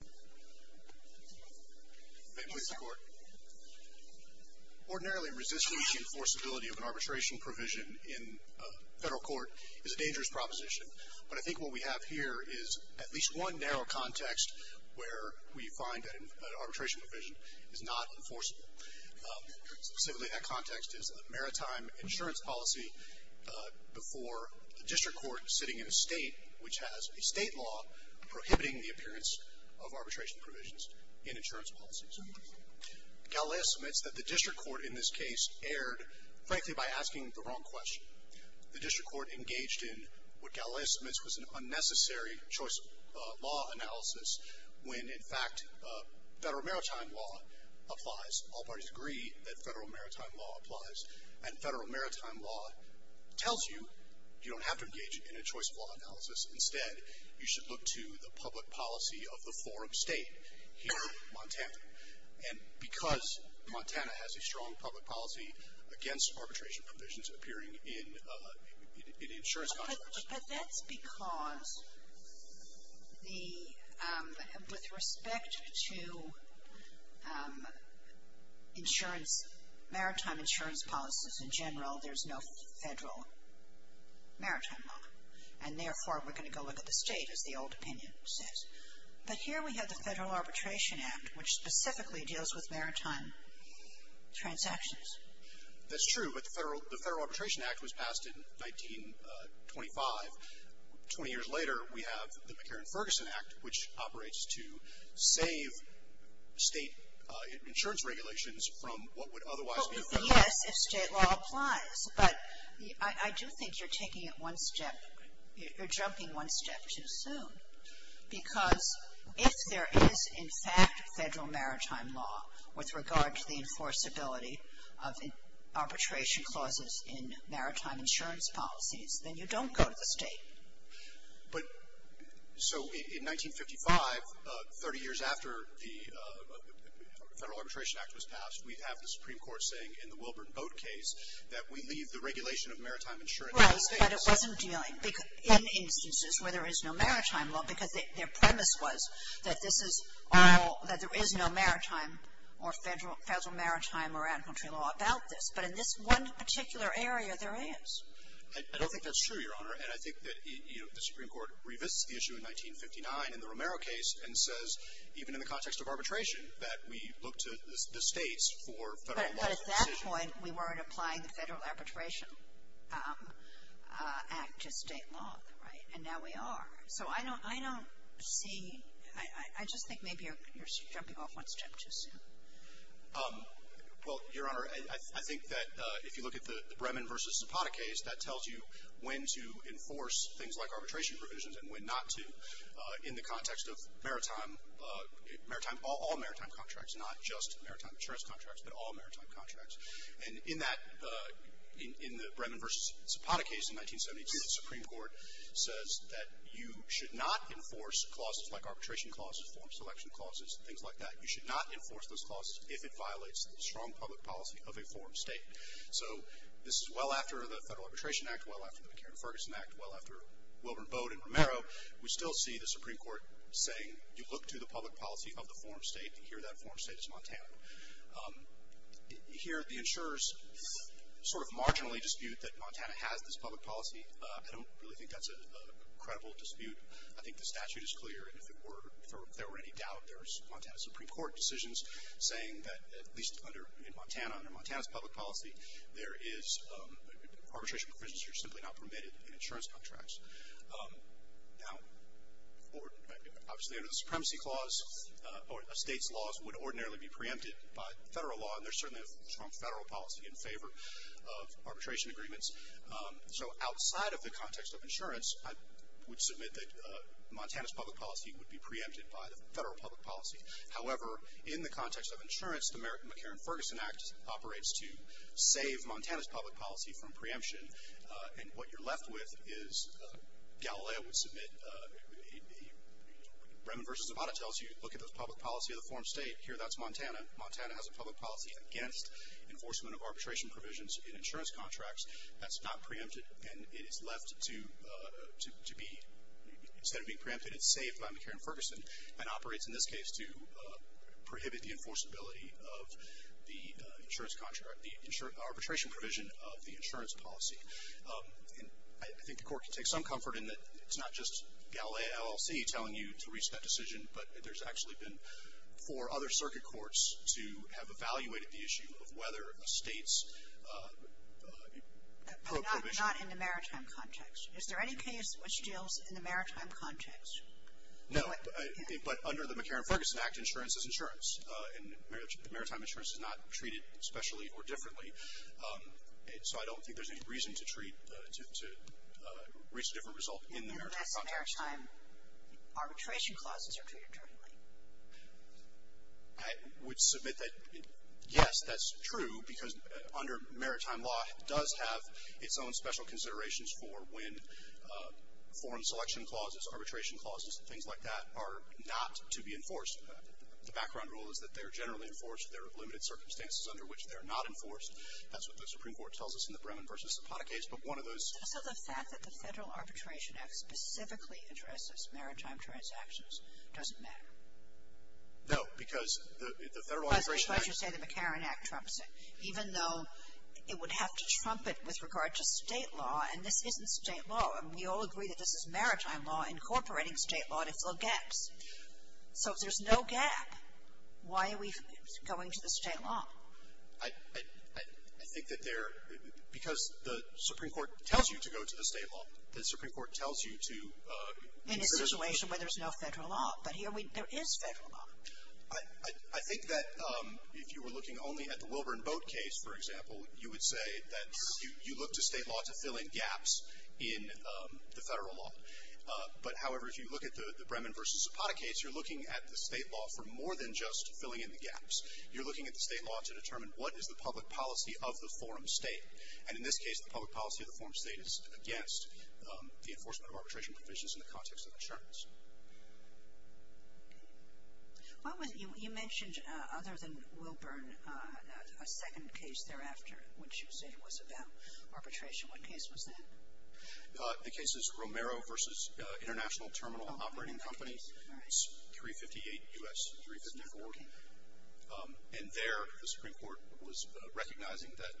May it please the Court. Ordinarily, resisting the enforceability of an arbitration provision in a federal court is a dangerous proposition, but I think what we have here is at least one narrow context where we find that an arbitration provision is not enforceable. Specifically, that context is a maritime insurance policy before the District Court, sitting in a state which has a state law prohibiting the appearance of arbitration provisions in insurance policies. Galileo submits that the District Court in this case erred, frankly, by asking the wrong question. The District Court engaged in what Galileo submits was an unnecessary choice of law analysis when, in fact, federal maritime law applies. All parties agree that federal maritime law applies, and federal maritime law tells you you don't have to engage in a choice of law analysis. Instead, you should look to the public policy of the forum state here in Montana. And because Montana has a strong public policy against arbitration provisions appearing in insurance contracts. But that's because the, with respect to insurance, maritime insurance policies in general, there's no federal maritime law. And therefore, we're going to go look at the state, as the old opinion says. But here we have the Federal Arbitration Act, which specifically deals with maritime transactions. That's true, but the Federal Arbitration Act was passed in 1925. Twenty years later, we have the McCarran-Ferguson Act, which operates to save state insurance regulations from what would otherwise be federal. Well, yes, if state law applies. But I do think you're taking it one step, you're jumping one step too soon. Because if there is, in fact, federal maritime law with regard to the enforceability of arbitration clauses in maritime insurance policies, then you don't go to the state. But, so in 1955, 30 years after the Federal Arbitration Act was passed, we have the Supreme Court saying in the Wilburn Boat Case, that we leave the regulation of maritime insurance to the state. Right, but it wasn't dealing, in instances where there is no maritime law, because their premise was that this is all, that there is no maritime or federal maritime or out-of-country law about this. But in this one particular area, there is. I don't think that's true, Your Honor. And I think that, you know, the Supreme Court revisits the issue in 1959 in the Romero case, and says, even in the context of arbitration, that we look to the states for federal law. But at that point, we weren't applying the Federal Arbitration Act to state law, right? And now we are. So I don't see, I just think maybe you're jumping off one step too soon. Well, Your Honor, I think that if you look at the Bremen v. Zapata case, that tells you when to enforce things like arbitration provisions and when not to, in the context of maritime, all maritime contracts, not just maritime insurance contracts, but all maritime contracts. And in that, in the Bremen v. Zapata case in 1972, the Supreme Court says that you should not enforce clauses like arbitration clauses, form selection clauses, things like that. You should not enforce those clauses if it violates the strong public policy of a form state. So this is well after the Federal Arbitration Act, well after the McCarran-Ferguson Act, well after Wilbur and Bode and Romero. We still see the Supreme Court saying, you look to the public policy of the form state, and here that form state is Montana. Here the insurers sort of marginally dispute that Montana has this public policy. I don't really think that's a credible dispute. I think the statute is clear, and if there were any doubt, there's Montana Supreme Court decisions saying that at least in Montana, under Montana's public policy, there is, arbitration provisions are simply not permitted in insurance contracts. Now, obviously under the Supremacy Clause, a state's laws would ordinarily be preempted by Federal law, and there's certainly a strong Federal policy in favor of arbitration agreements. So outside of the context of insurance, I would submit that Montana's public policy would be preempted by the Federal public policy. However, in the context of insurance, the American McCarran-Ferguson Act operates to save Montana's public policy from preemption, and what you're left with is, Galileo would submit, Remen v. Zavada tells you, look at the public policy of the form state. Here that's Montana. Montana has a public policy against enforcement of arbitration provisions in insurance contracts. That's not preempted, and it is left to be, instead of being preempted, it's saved by McCarran-Ferguson, and operates in this case to prohibit the enforceability of the insurance contract, the arbitration provision of the insurance policy. And I think the Court can take some comfort in that it's not just Galileo LLC telling you to reach that decision, but there's actually been four other circuit courts to have evaluated the issue of whether a state's probe provision But not in the maritime context. Is there any case which deals in the maritime context? No. But under the McCarran-Ferguson Act, insurance is insurance, and maritime insurance is not treated specially or differently. So I don't think there's any reason to treat, to reach a different result in the maritime context. Unless the maritime arbitration clauses are treated differently. I would submit that, yes, that's true, because under maritime law it does have its own special considerations for when foreign selection clauses, arbitration clauses, things like that are not to be enforced. The background rule is that they're generally enforced. There are limited circumstances under which they're not enforced. That's what the Supreme Court tells us in the Bremen v. Zapata case, but one of those So the fact that the Federal Arbitration Act specifically addresses maritime transactions doesn't matter? No, because the Federal Arbitration Act That's why you say the McCarran Act trumps it, even though it would have to trump it with regard to state law, and this isn't state law. We all agree that this is maritime law incorporating state law to fill gaps. So if there's no gap, why are we going to the state law? I think that there, because the Supreme Court tells you to go to the state law. The Supreme Court tells you to In a situation where there's no federal law, but here there is federal law. I think that if you were looking only at the Wilburn Boat case, for example, you would say that you look to state law to fill in gaps in the federal law. But, however, if you look at the Bremen v. Zapata case, you're looking at the state law for more than just filling in the gaps. You're looking at the state law to determine what is the public policy of the forum state. And in this case, the public policy of the forum state is against the enforcement of arbitration provisions in the context of insurance. Okay. You mentioned, other than Wilburn, a second case thereafter, which you say was about arbitration. What case was that? The case is Romero v. International Terminal Operating Company. It's 358 U.S. 359 Oregon. And there, the Supreme Court was recognizing that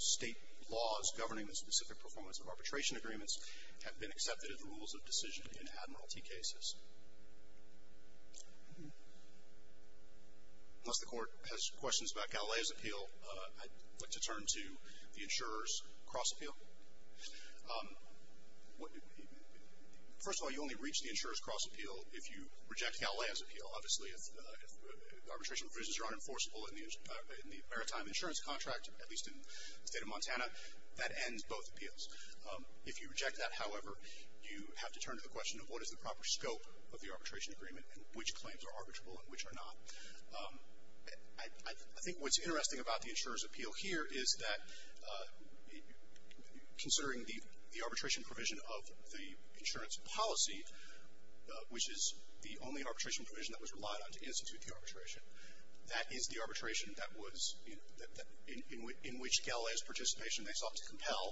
state laws governing the specific performance of arbitration agreements have been accepted as rules of decision in Admiralty cases. Unless the Court has questions about Galileo's appeal, I'd like to turn to the insurer's cross appeal. First of all, you only reach the insurer's cross appeal if you reject Galileo's appeal. Obviously, if arbitration provisions are unenforceable in the maritime insurance contract, at least in the state of Montana, that ends both appeals. If you reject that, however, you have to turn to the question of what is the proper scope of the arbitration agreement and which claims are arbitrable and which are not. I think what's interesting about the insurer's appeal here is that, considering the arbitration provision of the insurance policy, which is the only arbitration provision that was relied on to institute the arbitration, that is the arbitration that was, in which Galileo's participation they sought to compel,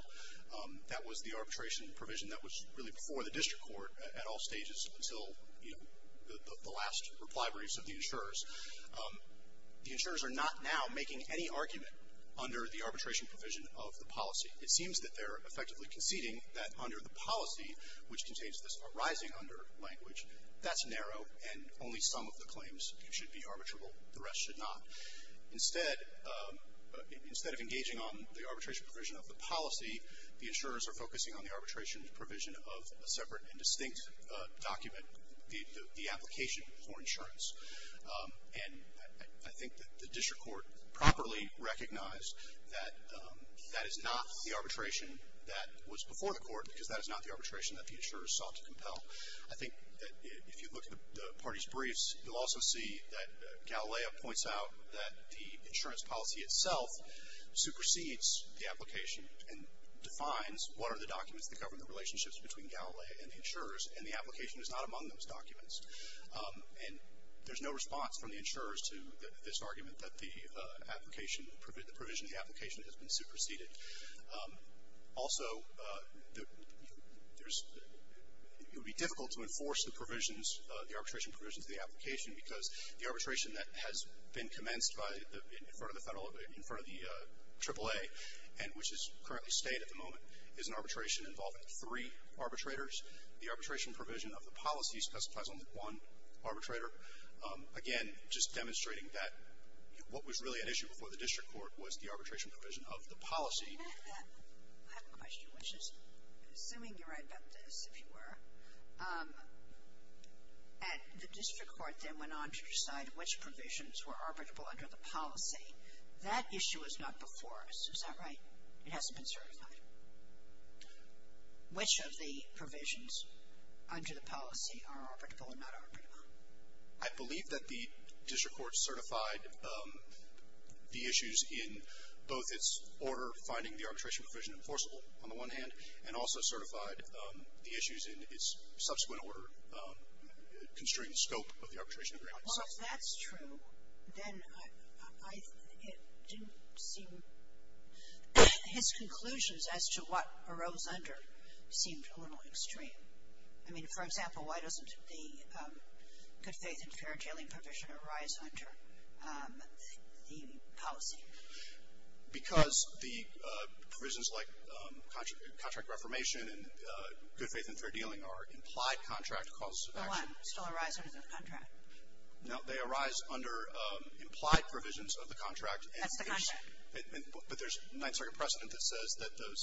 that was the arbitration provision that was really before the district court at all stages until the last reply briefs of the insurers, the insurers are not now making any argument under the arbitration provision of the policy. It seems that they're effectively conceding that under the policy, which contains this arising under language, that's narrow, and only some of the claims should be arbitrable. The rest should not. Instead of engaging on the arbitration provision of the policy, the insurers are focusing on the arbitration provision of a separate and distinct document, the application for insurance. And I think that the district court properly recognized that that is not the arbitration that was before the court because that is not the arbitration that the insurers sought to compel. I think that if you look at the parties' briefs, you'll also see that Galileo points out that the insurance policy itself supersedes the application and defines what are the documents that govern the relationships between Galileo and the insurers, and the application is not among those documents. And there's no response from the insurers to this argument that the application, the provision of the application has been superseded. Also, there's, it would be difficult to enforce the provisions, the arbitration provisions of the application because the arbitration that has been commenced by the, in front of the federal, in front of the AAA and which is currently State at the moment is an arbitration involving three arbitrators. The arbitration provision of the policy specifies only one arbitrator. Again, just demonstrating that what was really at issue before the district court was the arbitration provision of the policy. I have a question, which is, assuming you're right about this, if you were, the district court then went on to decide which provisions were arbitrable under the policy. That issue is not before us. Is that right? It hasn't been certified. Which of the provisions under the policy are arbitrable and not arbitrable? I believe that the district court certified the issues in both its order finding the arbitration provision enforceable, on the one hand, and also certified the issues in its subsequent order constrained scope of the arbitration agreement. Well, if that's true, then I, it didn't seem, his conclusions as to what arose under seemed a little extreme. I mean, for example, why doesn't the good faith and fair dealing provision arise under the policy? Because the provisions like contract reformation and good faith and fair dealing are implied contract causes of action. So what? Still arise under the contract? No, they arise under implied provisions of the contract. That's the contract. But there's a Ninth Circuit precedent that says that those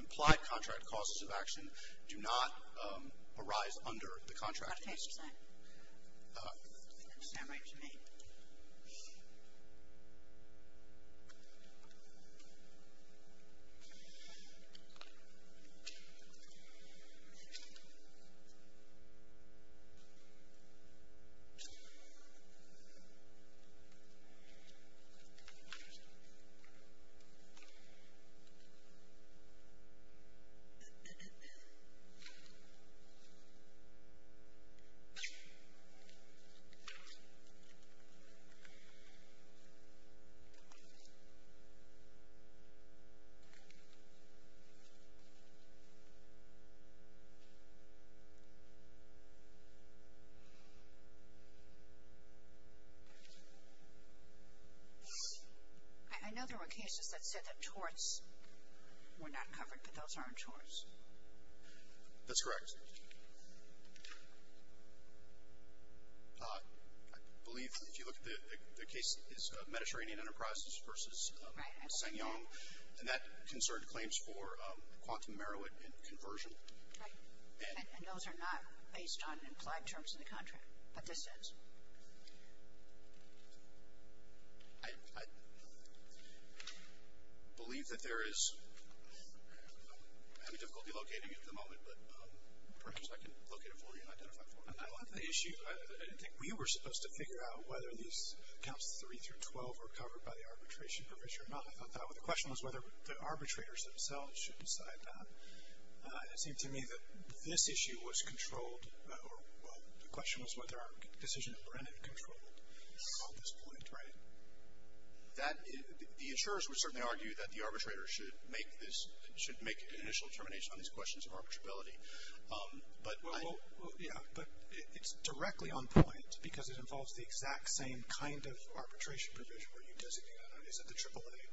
implied contract causes of action do not arise under the contract. Do you want to face your side? Stand right to me. Yes. I know there were cases that said that torts were not covered, but those aren't torts. That's correct. I believe, if you look at the case, it's Mediterranean Enterprises versus SsangYong. Right. And that concerned claims for quantum merit and conversion. Right. And those are not based on implied terms of the contract, but this is. I believe that there is, I'm having difficulty locating it at the moment, but perhaps I can locate it for you and identify for you. I don't have the issue. I didn't think we were supposed to figure out whether these counts 3 through 12 were covered by the arbitration provision or not. I thought that was the question, was whether the arbitrators themselves should decide that. It seemed to me that this issue was controlled, the question was whether our decision had been controlled at this point, right? The insurers would certainly argue that the arbitrators should make an initial determination on these questions of arbitrability. Yeah, but it's directly on point, because it involves the exact same kind of arbitration provision where you designate, is it the AAA,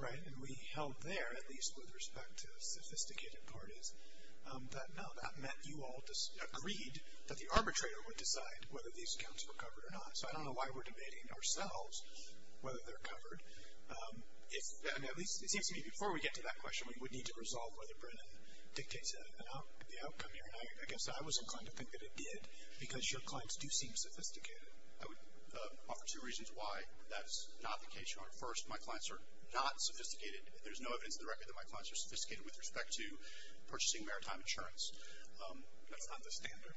right? And we held there, at least with respect to sophisticated parties, that no, that meant you all agreed that the arbitrator would decide whether these accounts were covered or not. So I don't know why we're debating ourselves whether they're covered. It seems to me before we get to that question, we would need to resolve whether Brennan dictates the outcome here. And I guess I was inclined to think that it did, because your clients do seem sophisticated. I would offer two reasons why that is not the case. First, my clients are not sophisticated. There's no evidence in the record that my clients are sophisticated with respect to purchasing maritime insurance. That's not the standard.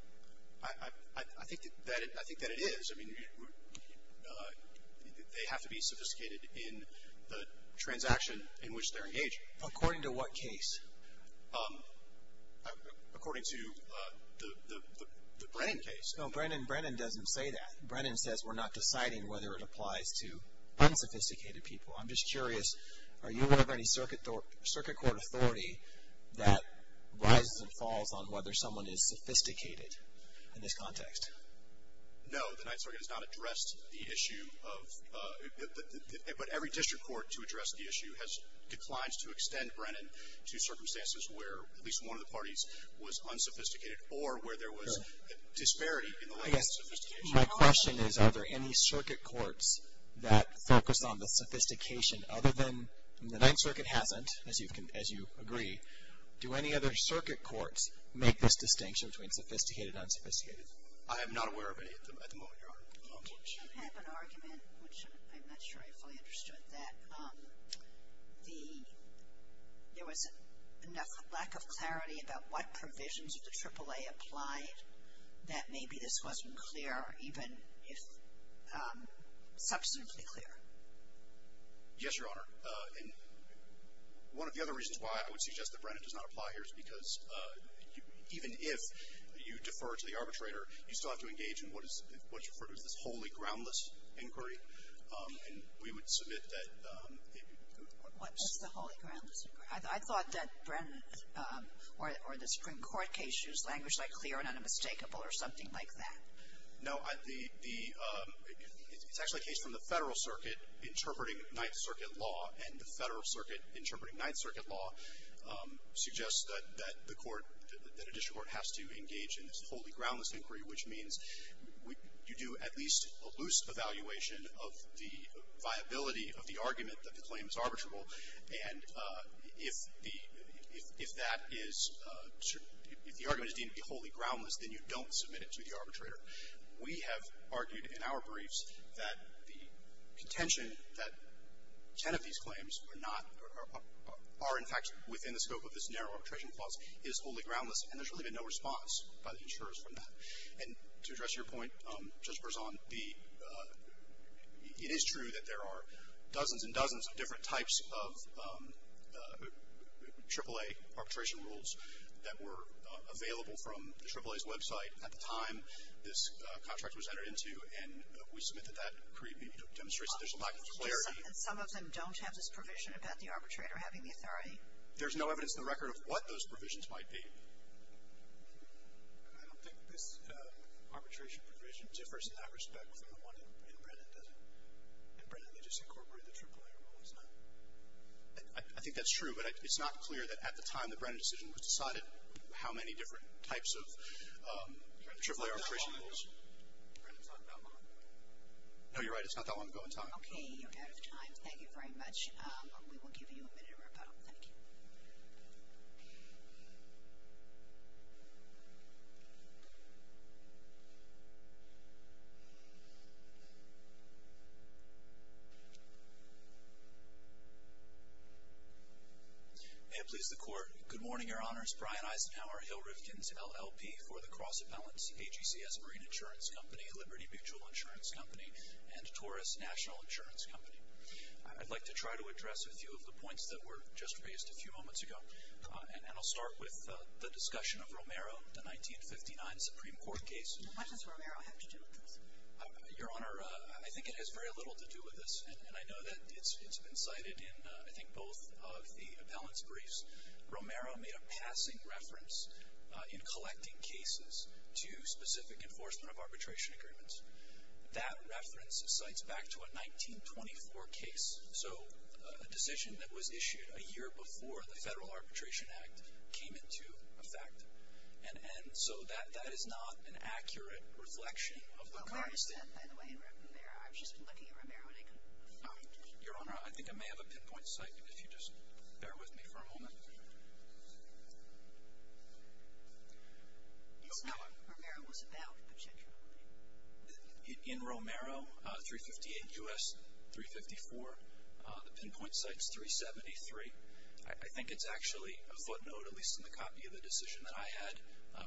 I think that it is. I mean, they have to be sophisticated in the transaction in which they're engaged. According to what case? According to the Brennan case. No, Brennan doesn't say that. Brennan says we're not deciding whether it applies to unsophisticated people. I'm just curious, are you aware of any circuit court authority that rises and falls on whether someone is sophisticated in this context? No, the Ninth Circuit has not addressed the issue. But every district court to address the issue has declined to extend Brennan to circumstances where at least one of the parties was unsophisticated or where there was disparity in the level of sophistication. My question is, are there any circuit courts that focus on the sophistication other than, the Ninth Circuit hasn't, as you agree. Do any other circuit courts make this distinction between sophisticated and unsophisticated? I am not aware of any at the moment, Your Honor. Did you have an argument, which I'm not sure I fully understood, that there was a lack of clarity about what provisions of the AAA applied that maybe this wasn't clear, even if substantively clear? Yes, Your Honor. And one of the other reasons why I would suggest that Brennan does not apply here is because even if you defer to the arbitrator, you still have to engage in what is referred to as this wholly groundless inquiry. And we would submit that it would. What's the wholly groundless inquiry? I thought that Brennan or the Supreme Court case used language like clear and unmistakable or something like that. No. It's actually a case from the Federal Circuit interpreting Ninth Circuit law, and the Federal Circuit interpreting Ninth Circuit law suggests that the court, that a district court has to engage in this wholly groundless inquiry, which means you do at least a loose evaluation of the viability of the argument that the claim is arbitrable, and if the argument is deemed to be wholly groundless, then you don't submit it to the arbitrator. We have argued in our briefs that the contention that ten of these claims are not or are, in fact, within the scope of this narrow arbitration clause is wholly groundless, and there's really been no response by the insurers from that. And to address your point, Judge Berzon, it is true that there are dozens and dozens of different types of AAA arbitration rules that were available from the AAA's website at the time this contract was entered into, and we submit that that demonstrates that there's a lack of clarity. And some of them don't have this provision about the arbitrator having the authority? There's no evidence in the record of what those provisions might be. I don't think this arbitration provision differs in that respect from the one in Brennan, does it? In Brennan, they just incorporate the AAA rule, does not it? I think that's true, but it's not clear that at the time the Brennan decision was decided how many different types of AAA arbitration rules. It's not that long ago. Brennan's not that long ago. No, you're right. It's not that long ago in time. Okay, you're out of time. Thank you very much. We will give you a minute to wrap up. Thank you. Thank you. May it please the Court. Good morning, Your Honors. Brian Eisenhower, Hill Rifkin's LLP for the Cross Appellants, AGCS Marine Insurance Company, Liberty Mutual Insurance Company, and Taurus National Insurance Company. I'd like to try to address a few of the points that were just raised a few moments ago, and I'll start with the discussion of Romero, the 1959 Supreme Court case. What does Romero have to do with this? Your Honor, I think it has very little to do with this, and I know that it's been cited in I think both of the appellants' briefs. Romero made a passing reference in collecting cases to specific enforcement of arbitration agreements. That reference cites back to a 1924 case, so a decision that was issued a year before the Federal Arbitration Act came into effect. And so that is not an accurate reflection of the context. Where is that, by the way, in Romero? I've just been looking at Romero and I couldn't find it. Your Honor, I think I may have a pinpoint site if you just bear with me for a moment. Go ahead. It's not what Romero was about, particularly. In Romero, 358 U.S. 354, the pinpoint site's 373. I think it's actually a footnote, at least in the copy of the decision that I had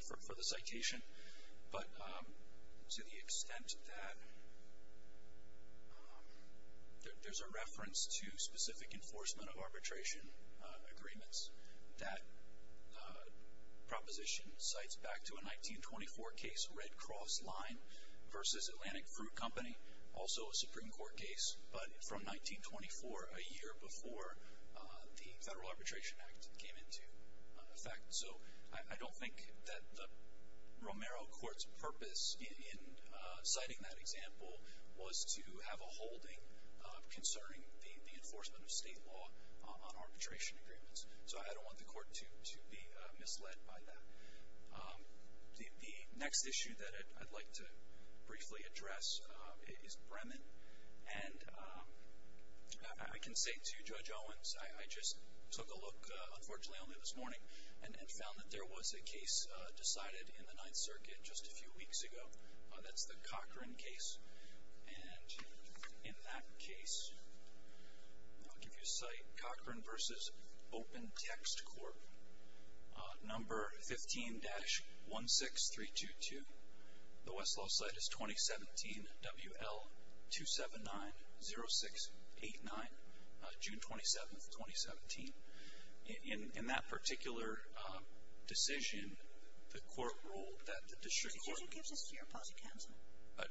for the citation, but to the extent that there's a reference to specific enforcement of arbitration agreements, that proposition cites back to a 1924 case, Red Cross Line versus Atlantic Fruit Company, also a Supreme Court case, but from 1924, a year before the Federal Arbitration Act came into effect. So I don't think that the Romero court's purpose in citing that example was to have a holding concerning the enforcement of state law on arbitration agreements. So I don't want the court to be misled by that. The next issue that I'd like to briefly address is Bremen. And I can say to Judge Owens, I just took a look, unfortunately, only this morning, and found that there was a case decided in the Ninth Circuit just a few weeks ago. That's the Cochran case. And in that case, I'll give you a site, Cochran versus Open Text Corp, number 15-16322. The Westlaw site is 2017 WL2790689, June 27, 2017. In that particular decision, the court ruled that the district court. Did you give this to your opposing counsel?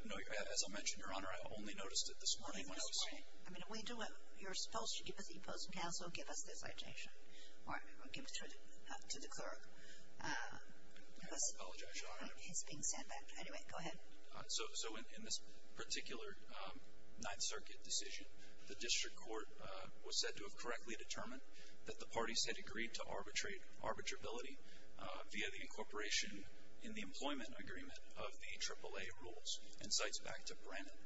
No, as I mentioned, Your Honor, I only noticed it this morning when I was. Well, that's fine. I mean, you're supposed to give it to the opposing counsel and give us this objection, or give it to the clerk. I apologize, Your Honor. Because he's being sent back. Anyway, go ahead. So in this particular Ninth Circuit decision, the district court was said to have correctly determined that the parties had agreed to arbitrate arbitrability via the incorporation in the employment agreement of the AAA rules, and cites back to Bremen.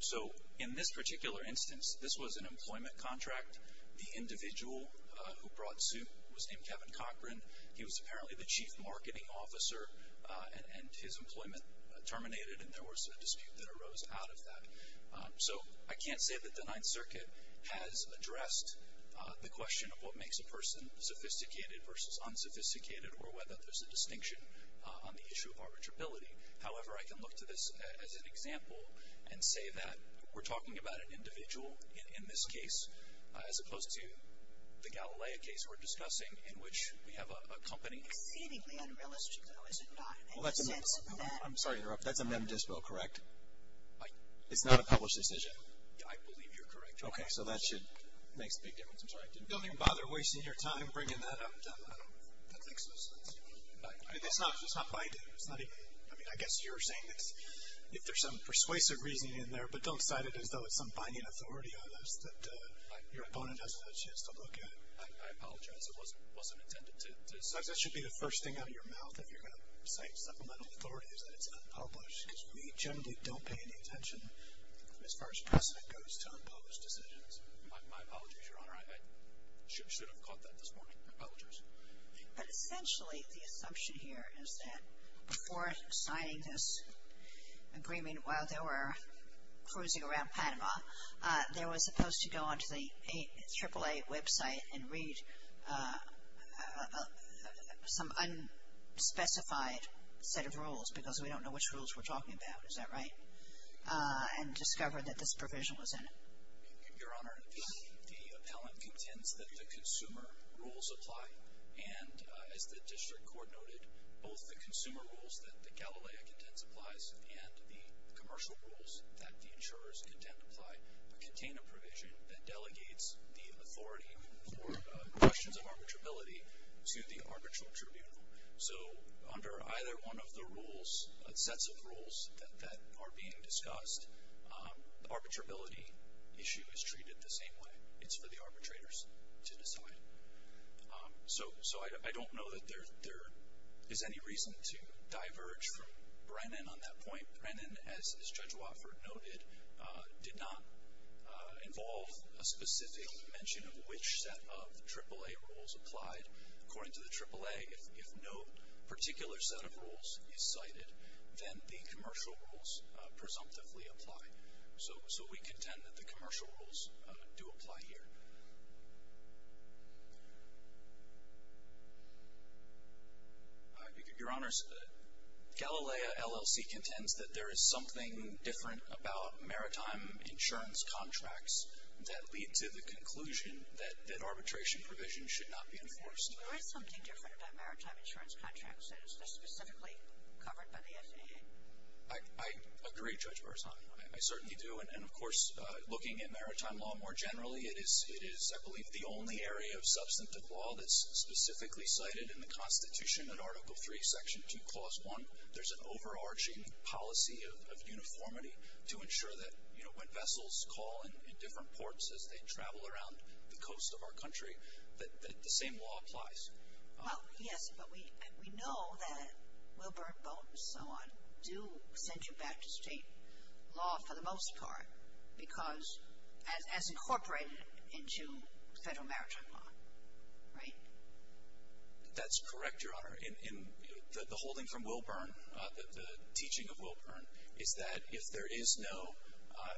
So in this particular instance, this was an employment contract. The individual who brought suit was named Kevin Cochran. He was apparently the chief marketing officer, and his employment terminated, and there was a dispute that arose out of that. So I can't say that the Ninth Circuit has addressed the question of what makes a person sophisticated versus unsophisticated or whether there's a distinction on the issue of arbitrability. However, I can look to this as an example and say that we're talking about an individual in this case, as opposed to the Galilea case we're discussing, in which we have a company. Exceedingly unrealistic, though, isn't it? Well, that's a mem. I'm sorry to interrupt. That's a mem dispel, correct? It's not a published decision? I believe you're correct. Okay, so that makes a big difference. I'm sorry, I didn't mean to. Don't even bother wasting your time bringing that up. That makes no sense. It's not binding. I mean, I guess you're saying that if there's some persuasive reasoning in there, but don't cite it as though it's some binding authority on us that your opponent has a chance to look at it. I apologize. It wasn't intended to. That should be the first thing out of your mouth if you're going to cite supplemental authorities, that it's unpublished, because we generally don't pay any attention, as far as precedent goes, to unpublished decisions. My apologies, Your Honor. I should have caught that this morning. My apologies. But essentially the assumption here is that before signing this agreement, while they were cruising around Panama, they were supposed to go onto the AAA website and read some unspecified set of rules, because we don't know which rules we're talking about. Is that right? And discover that this provision was in it. Your Honor, the appellant contends that the consumer rules apply. And as the district court noted, both the consumer rules that the Galileo Contents applies and the commercial rules that the insurers contend apply contain a provision that delegates the authority for questions of arbitrability to the arbitral tribunal. So under either one of the rules, sets of rules that are being discussed, the arbitrability issue is treated the same way. It's for the arbitrators to decide. So I don't know that there is any reason to diverge from Brennan on that point. Brennan, as Judge Wofford noted, did not involve a specific mention of which set of AAA rules applied. According to the AAA, if no particular set of rules is cited, then the commercial rules presumptively apply. So we contend that the commercial rules do apply here. Your Honor, Galileo LLC contends that there is something different about maritime insurance contracts that lead to the conclusion that arbitration provisions should not be enforced. There is something different about maritime insurance contracts. They're specifically covered by the FAA. I agree, Judge Berzani. I certainly do. And, of course, looking at maritime law more generally, it is, I believe, the only area of substantive law that's specifically cited in the Constitution in Article III, Section 2, Clause 1. There's an overarching policy of uniformity to ensure that, you know, when vessels call in different ports as they travel around the coast of our country, that the same law applies. Well, yes, but we know that Wilburn Boat and so on do send you back to state law for the most part because as incorporated into Federal maritime law, right? That's correct, Your Honor. In the holding from Wilburn, the teaching of Wilburn, is that if there is no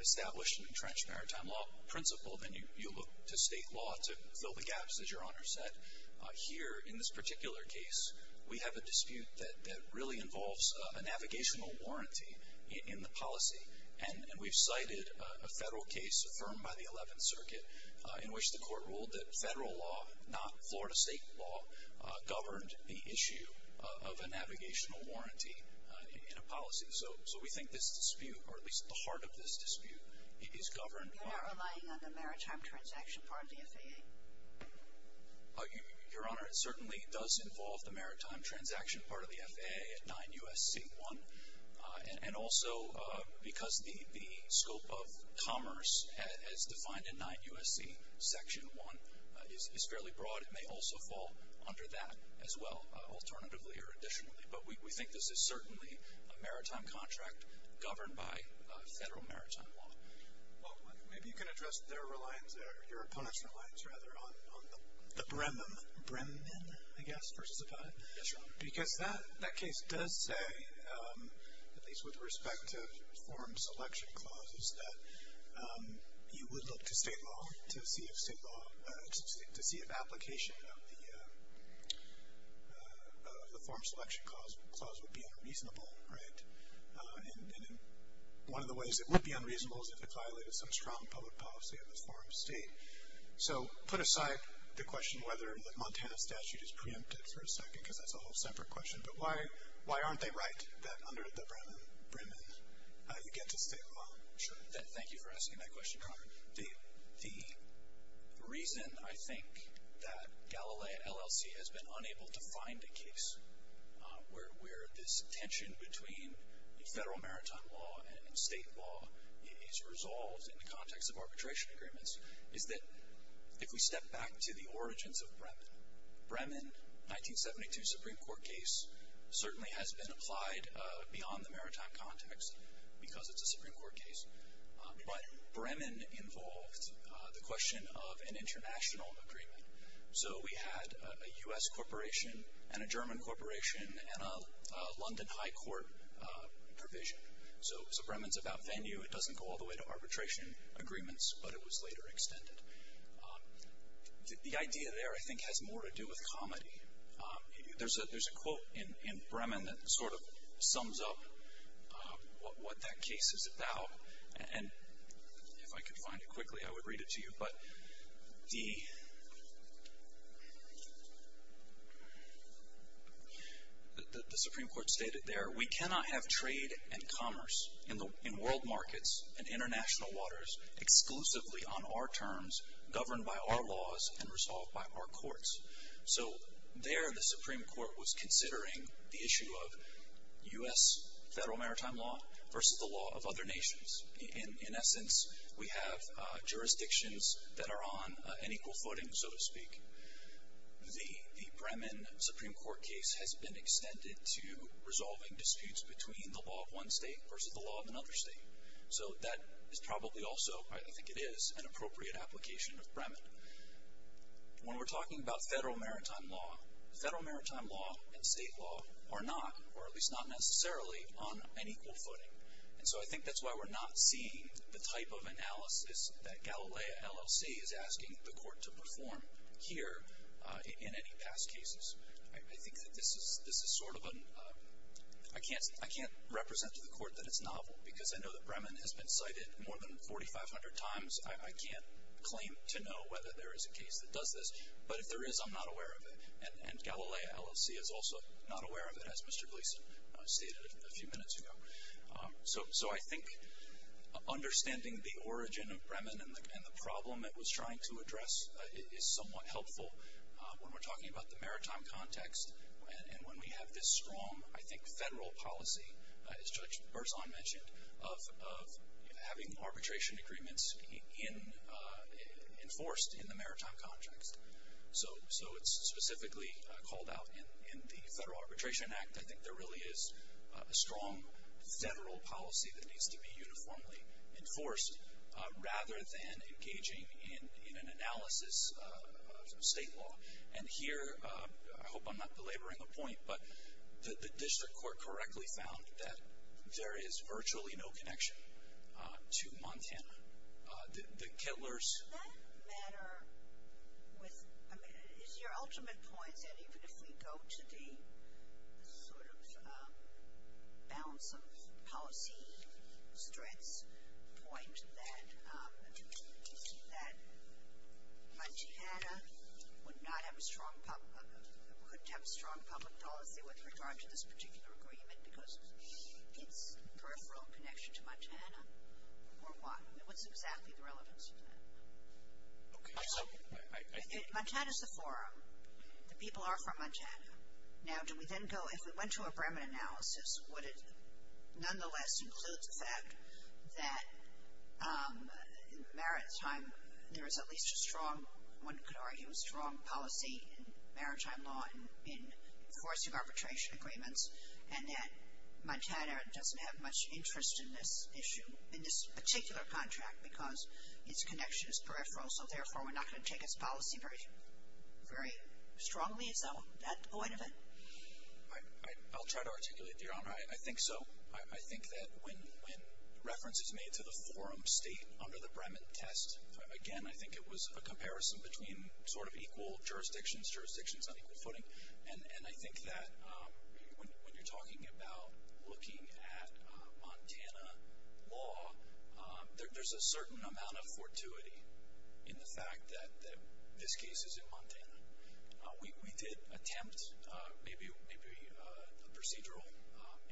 established and entrenched maritime law principle, then you look to state law to fill the gaps, as Your Honor said. Here in this particular case, we have a dispute that really involves a navigational warranty in the policy. And we've cited a Federal case affirmed by the Eleventh Circuit in which the Court ruled that Federal law, not Florida state law, governed the issue of a navigational warranty in a policy. So we think this dispute, or at least the heart of this dispute, is governed by… You're not relying on the maritime transaction part of the FAA? Your Honor, it certainly does involve the maritime transaction part of the FAA at 9 U.S.C. 1. And also because the scope of commerce as defined in 9 U.S.C. Section 1 is fairly broad. It may also fall under that as well, alternatively or additionally. But we think this is certainly a maritime contract governed by Federal maritime law. Well, maybe you can address their reliance, or your opponent's reliance, rather, on the… The Bremen? Bremen, I guess, versus Apatow? Yes, Your Honor. Because that case does say, at least with respect to form selection clauses, that you would look to state law to see if state law… To see if application of the form selection clause would be unreasonable, right? And one of the ways it would be unreasonable is if it violated some strong public policy of the form state. So put aside the question whether the Montana statute is preempted for a second, because that's a whole separate question. But why aren't they right that under the Bremen you get to state law? Sure. Thank you for asking that question, Your Honor. The reason, I think, that Galilee LLC has been unable to find a case where this tension between Federal maritime law and state law is resolved in the context of arbitration agreements is that if we step back to the origins of Bremen, Bremen, 1972 Supreme Court case, certainly has been applied beyond the maritime context, because it's a Supreme Court case. But Bremen involved the question of an international agreement. So we had a U.S. corporation and a German corporation and a London High Court provision. So Bremen's about venue. It doesn't go all the way to arbitration agreements, but it was later extended. The idea there, I think, has more to do with comedy. There's a quote in Bremen that sort of sums up what that case is about. And if I could find it quickly, I would read it to you. But the Supreme Court stated there, we cannot have trade and commerce in world markets and international waters exclusively on our terms governed by our laws and resolved by our courts. So there the Supreme Court was considering the issue of U.S. federal maritime law versus the law of other nations. In essence, we have jurisdictions that are on an equal footing, so to speak. The Bremen Supreme Court case has been extended to resolving disputes between the law of one state versus the law of another state. So that is probably also, I think it is, an appropriate application of Bremen. When we're talking about federal maritime law, federal maritime law and state law are not, or at least not necessarily, on an equal footing. And so I think that's why we're not seeing the type of analysis that Galilea LLC is asking the court to perform here in any past cases. I think that this is sort of a, I can't represent to the court that it's novel because I know that Bremen has been cited more than 4,500 times. I can't claim to know whether there is a case that does this. But if there is, I'm not aware of it. And Galilea LLC is also not aware of it, as Mr. Gleason stated a few minutes ago. So I think understanding the origin of Bremen and the problem it was trying to address is somewhat helpful when we're talking about the maritime context and when we have this strong, I think, federal policy, as Judge Berzon mentioned, of having arbitration agreements enforced in the maritime context. So it's specifically called out in the Federal Arbitration Act. I think there really is a strong federal policy that needs to be uniformly enforced rather than engaging in an analysis of state law. And here, I hope I'm not belaboring the point, but the district court correctly found that there is virtually no connection to Montana. The Kettlers. Does that matter? I mean, is your ultimate point that even if we go to the sort of balance of policy strengths point that Montana would not have a strong public policy with regard to this particular agreement because it's peripheral connection to Montana? Or what? What's exactly the relevance of that? Montana's the forum. The people are from Montana. Now, do we then go, if we went to a Bremen analysis, would it nonetheless include the fact that maritime, there is at least a strong, one could argue a strong policy in maritime law in enforcing arbitration agreements and that Montana doesn't have much interest in this issue, in this particular contract because its connection is peripheral, so therefore we're not going to take its policy very strongly? Is that the point of it? I'll try to articulate it, Your Honor. I think so. I think that when reference is made to the forum state under the Bremen test, again, I think it was a comparison between sort of equal jurisdictions, jurisdictions on equal footing. And I think that when you're talking about looking at Montana law, there's a certain amount of fortuity in the fact that this case is in Montana. We did attempt maybe a procedural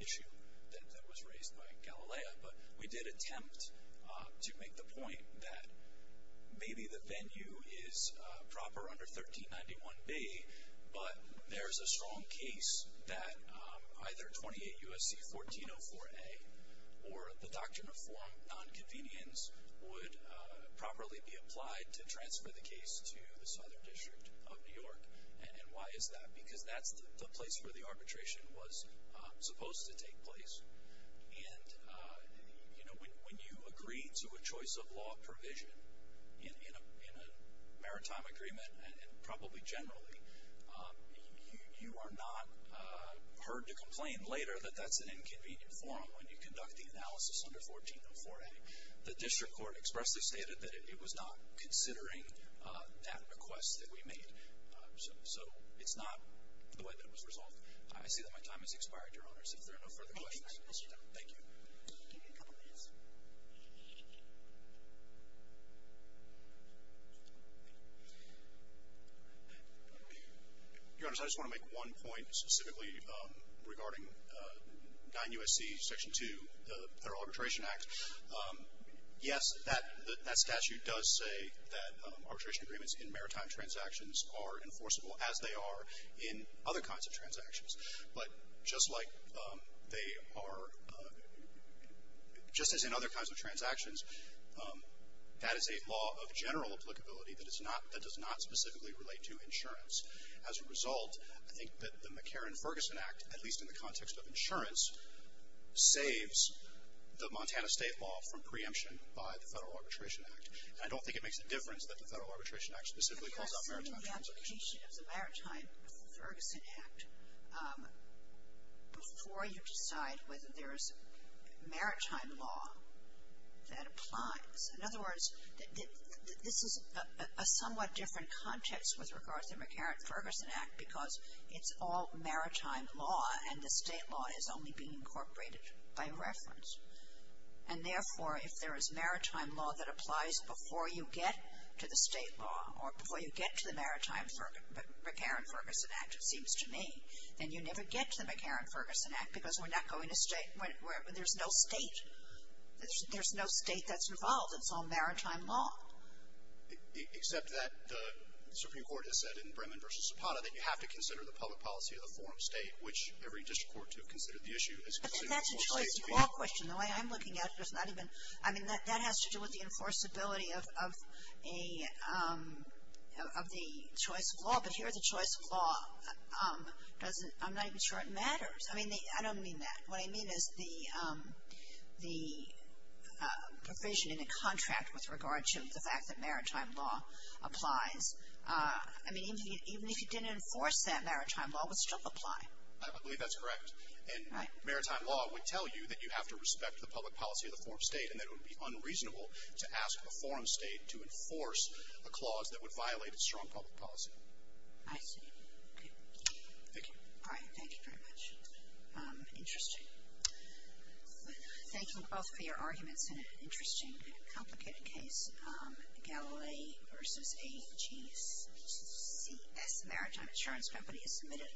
issue that was raised by Galileo, but we did attempt to make the point that maybe the venue is proper under 1391B, but there's a strong case that either 28 U.S.C. 1404A or the doctrine of nonconvenience would properly be applied to transfer the case to the Southern District of New York. And why is that? Because that's the place where the arbitration was supposed to take place. And, you know, when you agree to a choice of law provision in a maritime agreement, and probably generally, you are not heard to complain later that that's an inconvenient forum when you conduct the analysis under 1404A. The district court expressly stated that it was not considering that request that we made. So it's not the way that it was resolved. I see that my time has expired, Your Honors. If there are no further questions. Thank you. Give me a couple minutes. Your Honors, I just want to make one point specifically regarding 9 U.S.C. Section 2, the Federal Arbitration Act. Yes, that statute does say that arbitration agreements in maritime transactions are enforceable as they are in other kinds of transactions. But just like they are, just as in other kinds of transactions, that is a law of general applicability that does not specifically relate to insurance. As a result, I think that the McCarran-Ferguson Act, at least in the context of insurance, saves the Montana State law from preemption by the Federal Arbitration Act. And I don't think it makes a difference that the Federal Arbitration Act specifically calls out maritime transactions. It's the completion of the Maritime Ferguson Act before you decide whether there is maritime law that applies. In other words, this is a somewhat different context with regards to the McCarran-Ferguson Act because it's all maritime law and the state law is only being incorporated by reference. And therefore, if there is maritime law that applies before you get to the state law or before you get to the Maritime McCarran-Ferguson Act, it seems to me, then you never get to the McCarran-Ferguson Act because we're not going to state. There's no state. There's no state that's involved. It's all maritime law. Except that the Supreme Court has said in Bremen v. Zapata that you have to consider the public policy of the forum state, which every district court to have considered the issue has considered the forum state. But that's a choice of law question. The way I'm looking at it, there's not even, I mean, that has to do with the enforceability of the choice of law, but here the choice of law doesn't, I'm not even sure it matters. I mean, I don't mean that. What I mean is the provision in the contract with regard to the fact that maritime law applies. I mean, even if you didn't enforce that maritime law, it would still apply. I believe that's correct. And maritime law would tell you that you have to respect the public policy of the forum state and that it would be unreasonable to ask a forum state to enforce a clause that would violate a strong public policy. I see. Okay. Thank you. All right. Thank you very much. Interesting. Thank you both for your arguments in an interesting, complicated case. Galilee versus AGCS, maritime insurance company is submitted.